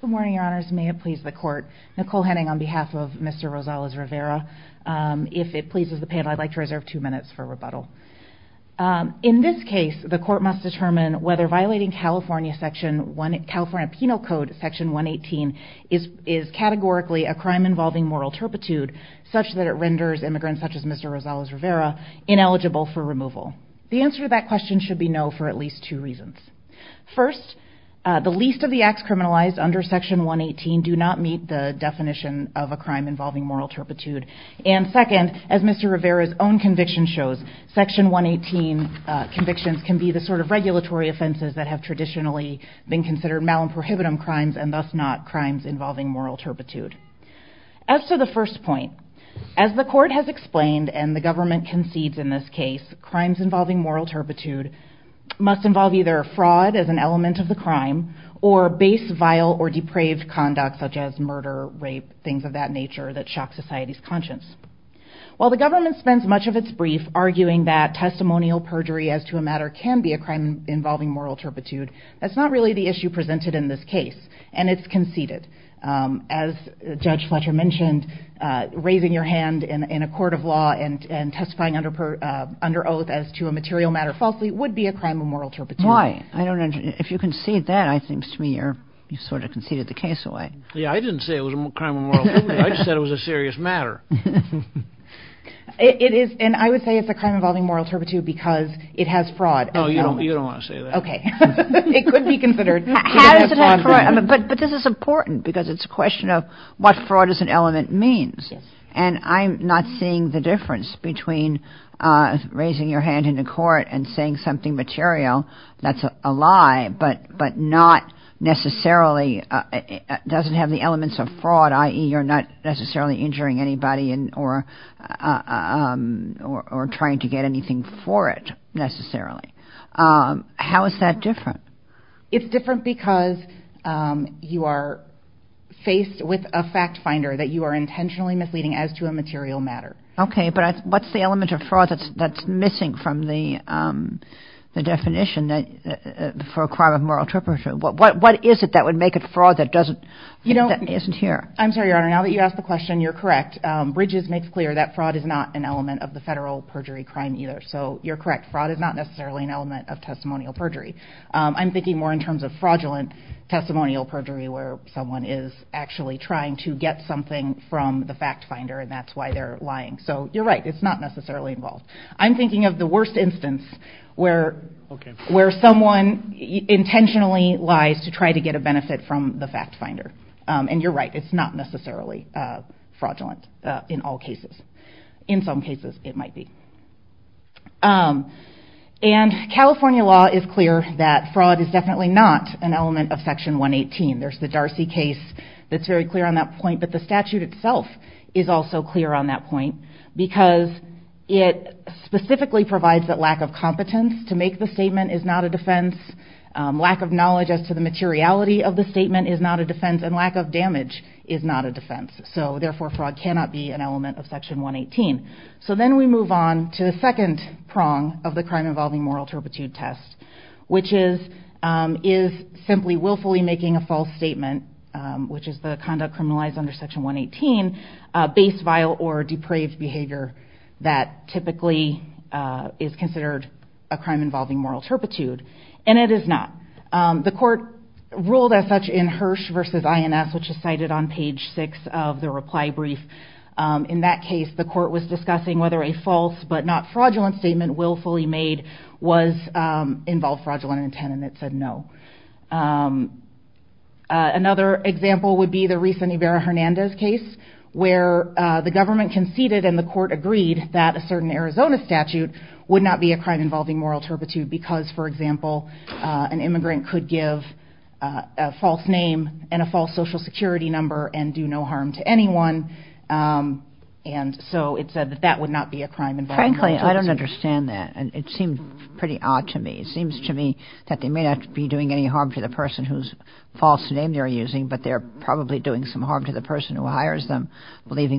Good morning, your honors. May it please the court. Nicole Henning on behalf of Mr. Rosales Rivera. If it pleases the panel, I'd like to reserve two minutes for rebuttal. In this case, the court must determine whether violating California Penal Code Section 118 is categorically a crime involving moral turpitude, such that it renders immigrants such as Mr. Rosales Rivera ineligible for removal. The answer to that question should be no for at least two reasons. First, the least of the acts criminalized under Section 118 do not meet the definition of a crime involving moral turpitude, and second, as Mr. Rivera's own conviction shows, Section 118 convictions can be the sort of regulatory offenses that have traditionally been considered mal and prohibitive crimes and thus not crimes involving moral turpitude. As to the first point, as the court has explained and the court has mentioned, it is not a crime involving moral turpitude. It is either perceived fraud as an element of the crime or base vile or depraved conduct such as murder, rape, things of that nature, that shock society's conscience. While the government spends much of its brief arguing that testimonial perjury as to a matter can be a crime involving moral turpitude, that's not really the issue presented in this case, and it's conceded. As Judge Fletcher mentioned, raising your hand in a court of law and testifying under oath as to a material matter falsely would be a crime of moral turpitude. Why? I don't understand. If you concede that, it seems to me you sort of conceded the case away. Yeah, I didn't say it was a crime of moral turpitude. I just said it was a serious matter. It is, and I would say it's a crime involving moral turpitude because it has fraud. Oh, you don't want to say that. Okay. It could be considered. But this is important because it's a question of what fraud is an element means, and I'm not seeing the difference between raising your hand in the court and saying something material that's a lie but not necessarily doesn't have the elements of fraud, i.e. you're not necessarily injuring anybody or trying to get anything for it necessarily. How is that different? It's different because you are faced with a fact finder that you are intentionally misleading as to a material matter. Okay, but what's the element of fraud that's missing from the definition for a crime of moral turpitude? What is it that would make it fraud that isn't here? I'm sorry, Your Honor. Now that you asked the question, you're correct. Bridges makes clear that fraud is not an element of the federal perjury crime either. So you're correct. Fraud is not necessarily an element of testimonial perjury. I'm thinking more in terms of fraudulent testimonial perjury where someone is actually trying to get something from the fact finder, and that's why they're lying. So you're right. It's not necessarily involved. I'm thinking of the worst instance where someone intentionally lies to try to get a benefit from the fact finder, and you're right. It's not necessarily fraudulent in all cases. In some cases, it might be. And California law is clear that fraud is definitely not an element of Section 118. There's the Darcy case that's very clear on that point, but the statute itself is also clear on that point because it is not a defense, and lack of damage is not a defense. So therefore, fraud cannot be an element of Section 118. So then we move on to the second prong of the crime involving moral turpitude test, which is simply willfully making a false statement, which is the conduct criminalized under Section 118 based vile or depraved behavior that typically is ruled as such in Hirsch v. INS, which is cited on page 6 of the reply brief. In that case, the court was discussing whether a false but not fraudulent statement willfully made involved fraudulent intent, and it said no. Another example would be the recent Ibarra-Hernandez case where the government conceded and the court agreed that a certain number of people could be charged with a crime involving moral turpitude because, for example, an immigrant could give a false name and a false social security number and do no harm to anyone. And so it said that that would not be a crime involving moral turpitude. Frankly, I don't understand that, and it seems pretty odd to me. It seems to me that they may not be doing any harm to the person whose false name they're using, but they're probably doing some harm to the person who hires them, legally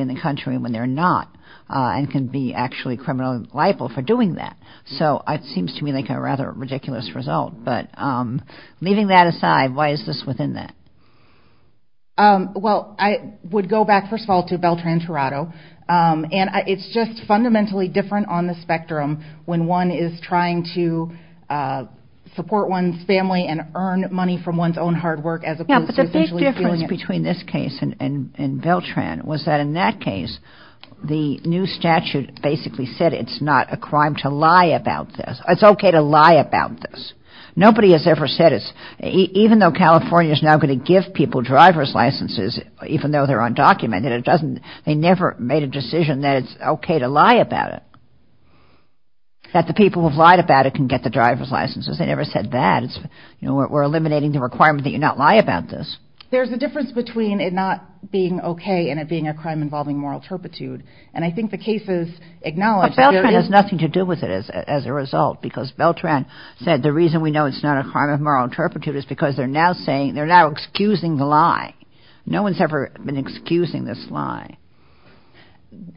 in the country when they're not, and can be actually criminally liable for doing that. So it seems to me like a rather ridiculous result. But leaving that aside, why is this within that? Well, I would go back, first of all, to Beltran-Torado, and it's just fundamentally different on the spectrum when one is trying to support one's family and earn money from one's own hard work as opposed to essentially stealing it. The new statute basically said it's not a crime to lie about this. It's okay to lie about this. Nobody has ever said it's – even though California is now going to give people driver's licenses, even though they're undocumented, it doesn't – they never made a decision that it's okay to lie about it, that the people who have lied about it can get the driver's licenses. They never said that. We're eliminating the requirement that you not lie about this. But Beltran has nothing to do with it as a result, because Beltran said the reason we know it's not a crime of moral turpitude is because they're now saying – they're now excusing the lie. No one's ever been excusing this lie.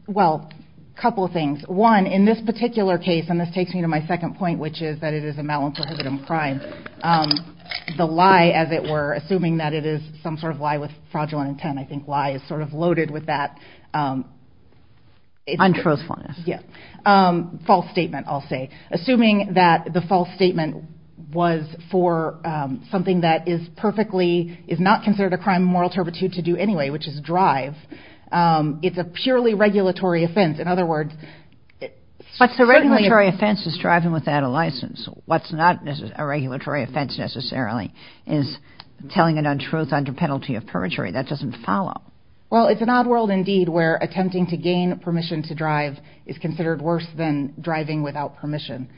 Well, a couple of things. One, in this particular case – and this takes me to my second point, which is that it is a mal and prohibitive crime – the lie, as it were, assuming that it is some sort of lie with fraudulent intent, I think lie is sort of loaded with that – Untruthfulness. Yes. False statement, I'll say. Assuming that the false statement was for something that is perfectly – is not considered a crime of moral turpitude to do anyway, which is drive, it's a purely regulatory offense. In other words – But the regulatory offense is driving without a license. What's not a regulatory offense, necessarily, is telling an untruth under penalty of perjury. That doesn't follow. Well, it's an odd world, indeed, where attempting to gain permission to drive is considered worse than driving without permission.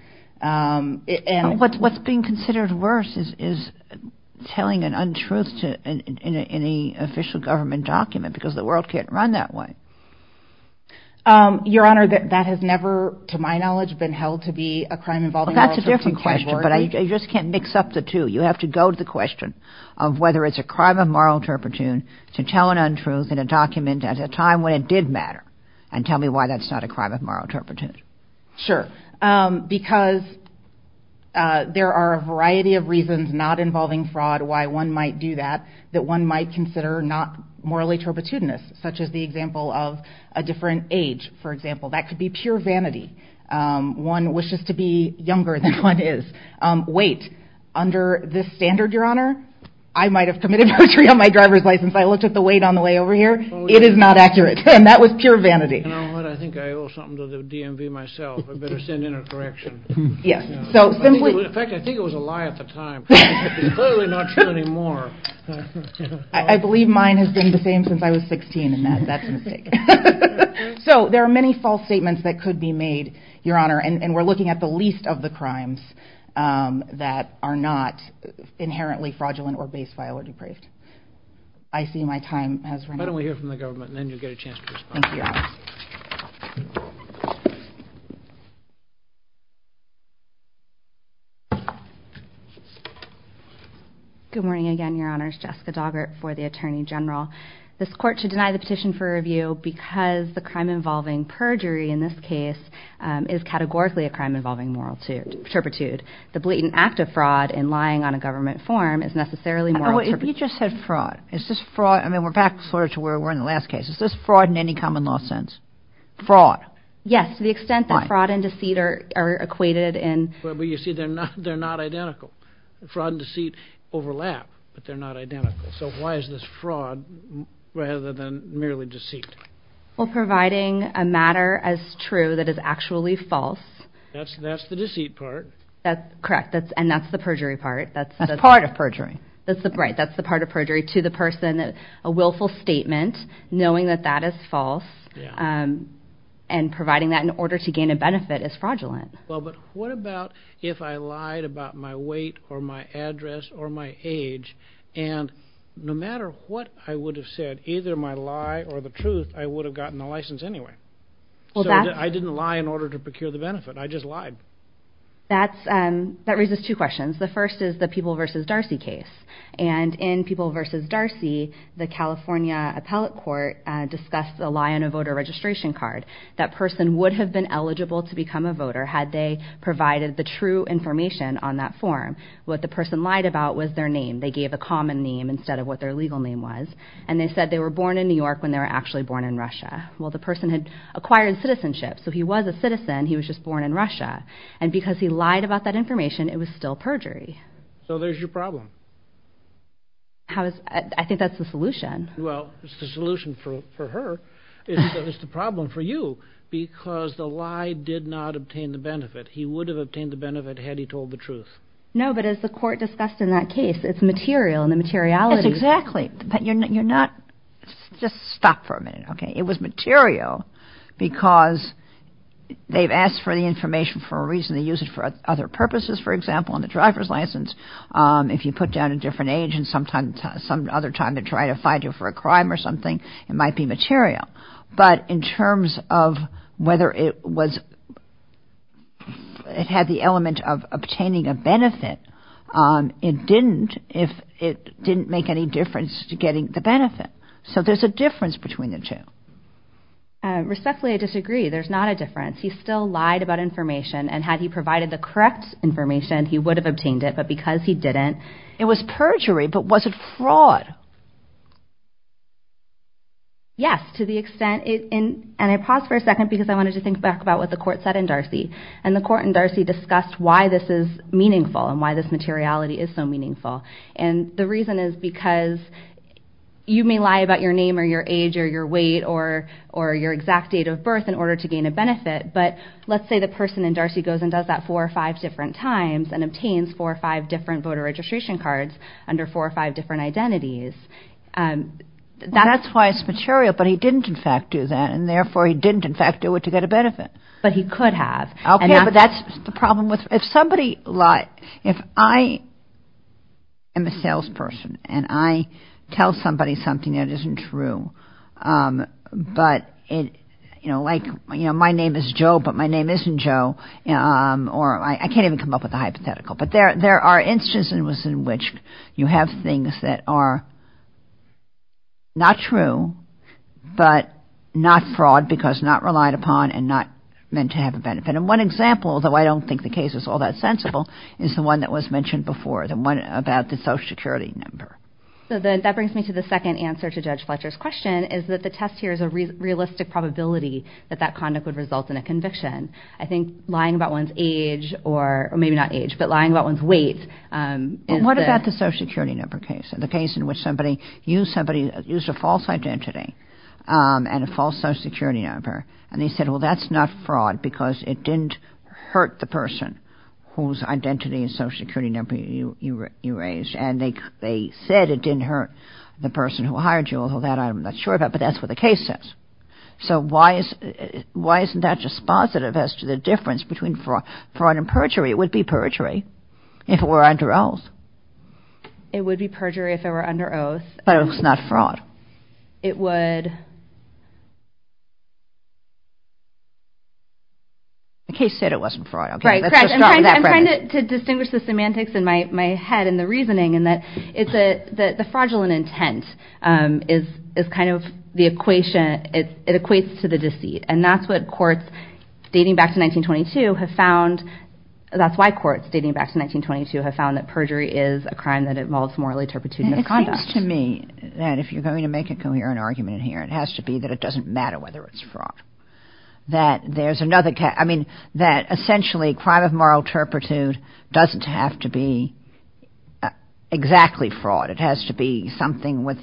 What's being considered worse is telling an untruth in an official government document, because the world can't run that way. Your Honor, that has never, to my knowledge, been held to be a crime involving moral turpitude. But I just can't mix up the two. You have to go to the question of whether it's a crime of moral turpitude to tell an untruth in a document at a time when it did matter, and tell me why that's not a crime of moral turpitude. Sure. Because there are a variety of reasons not involving fraud, why one might do that, that one might consider not morally turpitudinous, such as the example of a different age, for example. That could be pure vanity. One wishes to be younger than one is. Weight. Under this standard, Your Honor, I might have committed perjury on my driver's license. I looked at the weight on the way over here. It is not accurate. And that was pure vanity. You know what? I think I owe something to the DMV myself. I better send in a correction. Yes. So simply... In fact, I think it was a lie at the time. It's clearly not true anymore. I believe mine has been the same since I was 16, and that's a mistake. So there are many false statements that could be made, Your Honor, and we're looking at the least of the crimes that are not inherently fraudulent or base file or depraved. I see my time has run out. Why don't we hear from the government, and then you'll get a chance to respond. Thank you, Your Honor. Good morning again, Your Honor. It's Jessica Doggart for the Attorney General. This court should deny the petition for review because the crime involving perjury in this case is categorically a crime involving moral turpitude. The blatant act of fraud in lying on a government form is necessarily moral turpitude. Oh, wait. You just said fraud. Is this fraud? I mean, we're back sort of to where we were in the last case. Is this fraud in any common law sense? Fraud? Yes, to the extent that fraud and deceit are equated in. But you see, they're not identical. Fraud and deceit overlap, but they're not identical. So why is this fraud rather than merely deceit? Well, providing a matter as true that is actually false. That's the deceit part. That's correct, and that's the perjury part. That's part of perjury. Right, that's the part of perjury to the person. A willful statement, knowing that that is false, and providing that in order to gain a benefit is fraudulent. Well, but what about if I lied about my weight or my address or my age, and no matter what I would have said, either my lie or the truth, I would have gotten the license anyway? I didn't lie in order to procure the benefit. I just lied. That raises two questions. The first is the People v. Darcy case. And in People v. Darcy, the California Appellate Court discussed a lie on a voter registration card. That person would have been eligible to become a voter had they provided the true information on that form. What the person lied about was their name. They gave a common name instead of what their legal name was. And they said they were born in New York when they were actually born in Russia. Well, the person had acquired citizenship, so he was a citizen. He was just born in Russia. And because he lied about that information, it was still perjury. So there's your problem. I think that's the solution. Well, it's the solution for her. It's the problem for you because the lie did not obtain the benefit. He would have obtained the benefit had he told the truth. No, but as the court discussed in that case, it's material and the materiality. Exactly. Just stop for a minute, okay? It was material because they've asked for the information for a reason. They use it for other purposes, for example, on the driver's license. If you put down a different age and some other time they try to find you for a crime or something, it might be material. But in terms of whether it had the element of obtaining a benefit, it didn't. It didn't make any difference to getting the benefit. So there's a difference between the two. Respectfully, I disagree. There's not a difference. He still lied about information. And had he provided the correct information, he would have obtained it. But because he didn't, it was perjury. But was it fraud? Yes, to the extent it – and I paused for a second because I wanted to think back about what the court said in Darcy. And the court in Darcy discussed why this is meaningful and why this materiality is so meaningful. And the reason is because you may lie about your name or your age or your weight or your exact date of birth in order to gain a benefit. But let's say the person in Darcy goes and does that four or five different times and obtains four or five different voter registration cards under four or five different identities. That's why it's material, but he didn't, in fact, do that. And therefore, he didn't, in fact, do it to get a benefit. But he could have. Okay, but that's the problem with – if somebody – if I am a salesperson and I tell somebody something that isn't true, but it – you know, like, you know, my name is Joe, but my name isn't Joe, or I can't even come up with a hypothetical. But there are instances in which you have things that are not true, but not fraud because not relied upon and not meant to have a benefit. And one example, although I don't think the case is all that sensible, is the one that was mentioned before, the one about the Social Security number. So that brings me to the second answer to Judge Fletcher's question is that the test here is a realistic probability that that conduct would result in a conviction. I think lying about one's age or – maybe not age, but lying about one's weight is the – Well, what about the Social Security number case, the case in which somebody used somebody – used a false identity and a false Social Security number, and they said, well, that's not fraud because it didn't hurt the person whose identity and Social Security number you raised. And they said it didn't hurt the person who hired you, although that I'm not sure about, but that's what the case says. So why isn't that just positive as to the difference between fraud and perjury? It would be perjury if it were under oath. It would be perjury if it were under oath. But it was not fraud. It would – The case said it wasn't fraud. Right, correct. I'm trying to distinguish the semantics in my head and the reasoning, and that the fraudulent intent is kind of the equation – it equates to the deceit. And that's what courts, dating back to 1922, have found – that's why courts, dating back to 1922, have found that perjury is a crime that involves moral turpitude and misconduct. It seems to me that if you're going to make a coherent argument here, it has to be that it doesn't matter whether it's fraud, that there's another – I mean, that essentially crime of moral turpitude doesn't have to be exactly fraud. It has to be something with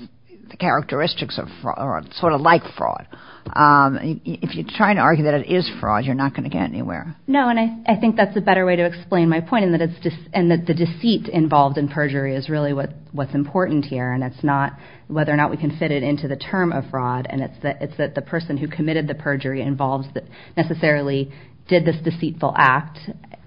the characteristics of fraud, sort of like fraud. If you're trying to argue that it is fraud, you're not going to get anywhere. No, and I think that's a better way to explain my point, and that the deceit involved in perjury is really what's important here, and it's not whether or not we can fit it into the term of fraud, and it's that the person who committed the perjury involves – necessarily did this deceitful act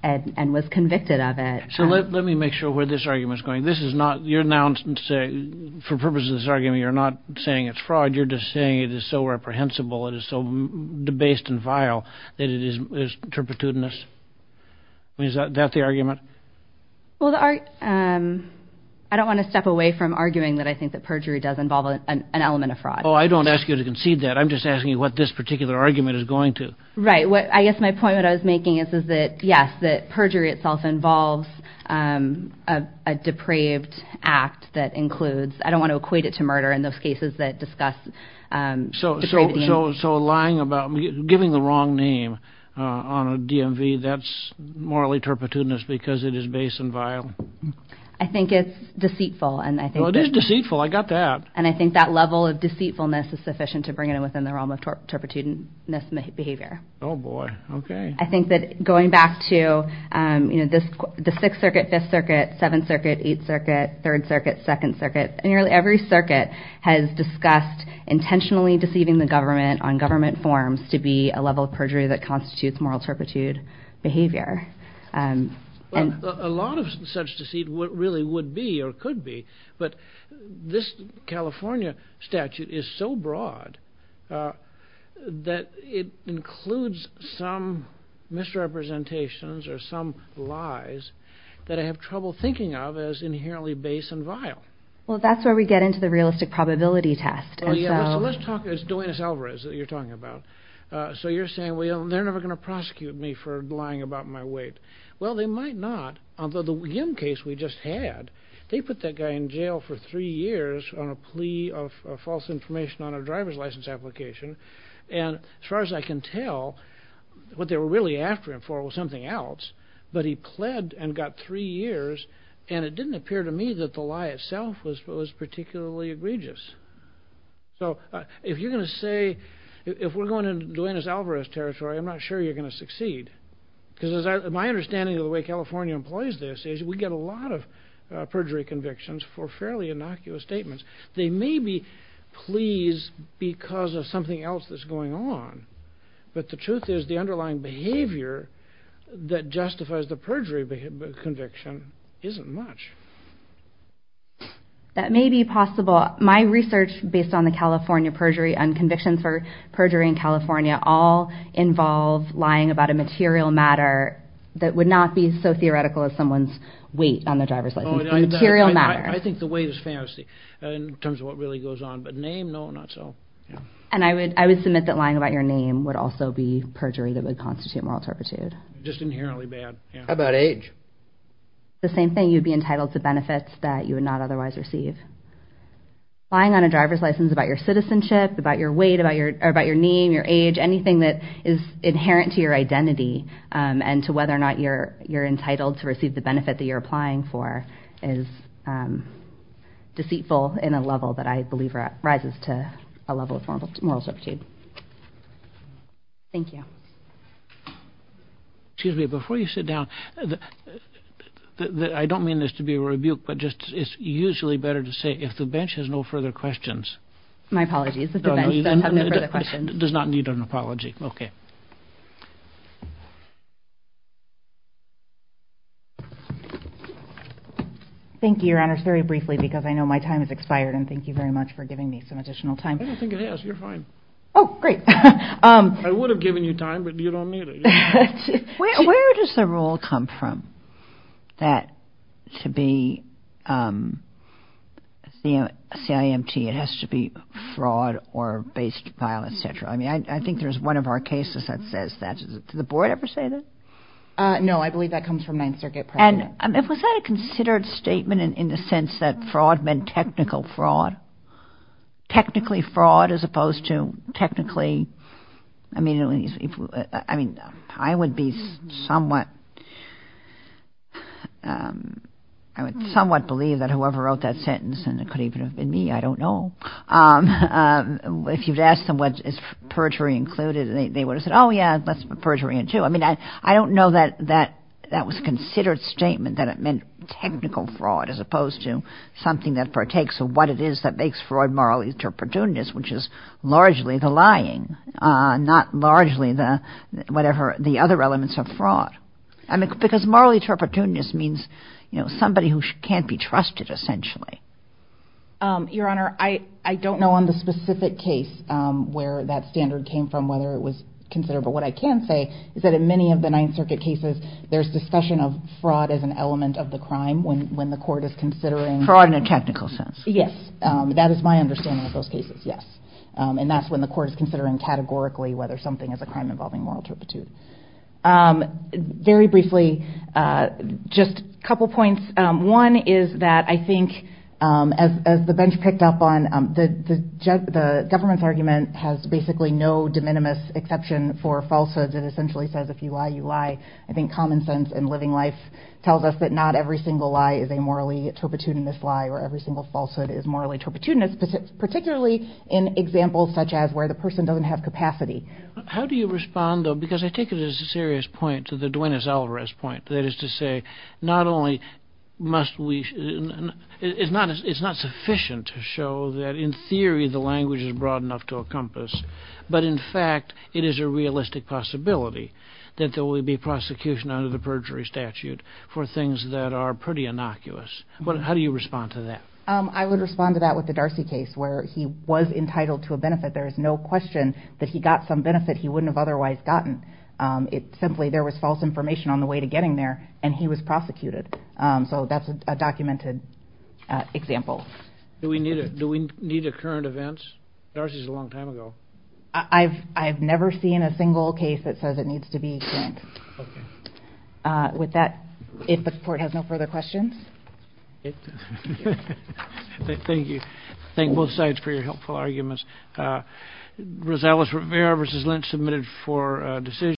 and was convicted of it. So let me make sure where this argument is going. This is not – you're now – for purposes of this argument, you're not saying it's fraud. You're just saying it is so reprehensible, it is so debased and vile that it is turpitudinous. Is that the argument? Well, I don't want to step away from arguing that I think that perjury does involve an element of fraud. Oh, I don't ask you to concede that. I'm just asking you what this particular argument is going to. Right. I guess my point that I was making is that, yes, that perjury itself involves a depraved act that includes – I don't want to equate it to murder in those cases that discuss depraved names. So lying about – giving the wrong name on a DMV, that's morally turpitudinous because it is base and vile? I think it's deceitful, and I think that – Well, it is deceitful. I got that. And I think that level of deceitfulness is sufficient to bring it within the realm of turpitudinous behavior. Oh, boy. Okay. I think that going back to the Sixth Circuit, Fifth Circuit, Seventh Circuit, Eighth Circuit, Third Circuit, Second Circuit, nearly every circuit has discussed intentionally deceiving the government on government forms to be a level of perjury that constitutes moral turpitude behavior. Well, a lot of such deceit really would be or could be, but this California statute is so broad that it includes some misrepresentations or some lies that I have trouble thinking of as inherently base and vile. Well, that's where we get into the realistic probability test. Oh, yeah. So let's talk – it's Duenas-Alvarez that you're talking about. So you're saying, well, they're never going to prosecute me for lying about my weight. Well, they might not, although the Yim case we just had, they put that guy in jail for three years on a plea of false information on a driver's license application. And as far as I can tell, what they were really after him for was something else, but he pled and got three years, and it didn't appear to me that the lie itself was particularly egregious. So if you're going to say – if we're going into Duenas-Alvarez territory, I'm not sure you're going to succeed, because my understanding of the way California employs this is we get a lot of perjury convictions for fairly innocuous statements. They may be pleas because of something else that's going on, but the truth is the underlying behavior that justifies the perjury conviction isn't much. That may be possible. My research based on the California perjury and convictions for perjury in California all involve lying about a material matter that would not be so theoretical as someone's weight on their driver's license. Material matter. I think the weight is fantasy in terms of what really goes on, but name, no, not so. And I would submit that lying about your name would also be perjury that would constitute moral turpitude. Just inherently bad, yeah. How about age? The same thing. You'd be entitled to benefits that you would not otherwise receive. Lying on a driver's license about your citizenship, about your weight, about your name, your age, anything that is inherent to your identity and to whether or not you're entitled to receive the benefit that you're applying for is deceitful in a level that I believe rises to a level of moral turpitude. Thank you. Excuse me. Before you sit down, I don't mean this to be a rebuke, but it's usually better to say if the bench has no further questions. My apologies. If the bench doesn't have no further questions. It does not need an apology. Okay. Thank you, Your Honors, very briefly because I know my time has expired. And thank you very much for giving me some additional time. I don't think it has. You're fine. Oh, great. I would have given you time, but you don't need it. Where does the rule come from that to be CIMT it has to be fraud or based violence, et cetera? I mean, I think there's one of our cases that says that. Does the board ever say that? No, I believe that comes from Ninth Circuit. And was that a considered statement in the sense that fraud meant technical fraud? Technically fraud as opposed to technically, I mean, I would be somewhat, I would somewhat believe that whoever wrote that sentence, and it could even have been me, I don't know. If you'd asked them what is perjury included, they would have said, oh, yeah, that's perjury in two. I mean, I don't know that that was considered statement that it meant technical fraud as opposed to something that partakes of what it is that makes fraud morally turpitudinous, which is largely the lying, not largely the whatever the other elements of fraud. I mean, because morally turpitudinous means, you know, somebody who can't be trusted, essentially. Your Honor, I don't know on the specific case where that standard came from, whether it was considered. But what I can say is that in many of the Ninth Circuit cases, there's discussion of fraud as an element of the crime when the court is considering. Fraud in a technical sense. Yes. That is my understanding of those cases, yes. And that's when the court is considering categorically whether something is a crime involving moral turpitude. Very briefly, just a couple points. One is that I think as the bench picked up on the government's argument has basically no de minimis exception for falsehoods. It essentially says, if you lie, you lie. I think common sense and living life tells us that not every single lie is a morally turpitudinous lie or every single falsehood is morally turpitudinous, particularly in examples such as where the person doesn't have capacity. How do you respond, though? Because I take it as a serious point to the Duenas-Alvarez point. That is to say, it's not sufficient to show that in theory the language is broad enough to encompass. But in fact, it is a realistic possibility that there will be prosecution under the perjury statute for things that are pretty innocuous. How do you respond to that? I would respond to that with the Darcy case where he was entitled to a benefit. There is no question that he got some benefit he wouldn't have otherwise gotten. Simply, there was false information on the way to getting there, and he was prosecuted. So that's a documented example. Do we need a current event? Darcy's a long time ago. I've never seen a single case that says it needs to be current. With that, if the court has no further questions. Thank you. Thank both sides for your helpful arguments. Rosales Rivera versus Lynch submitted for decision.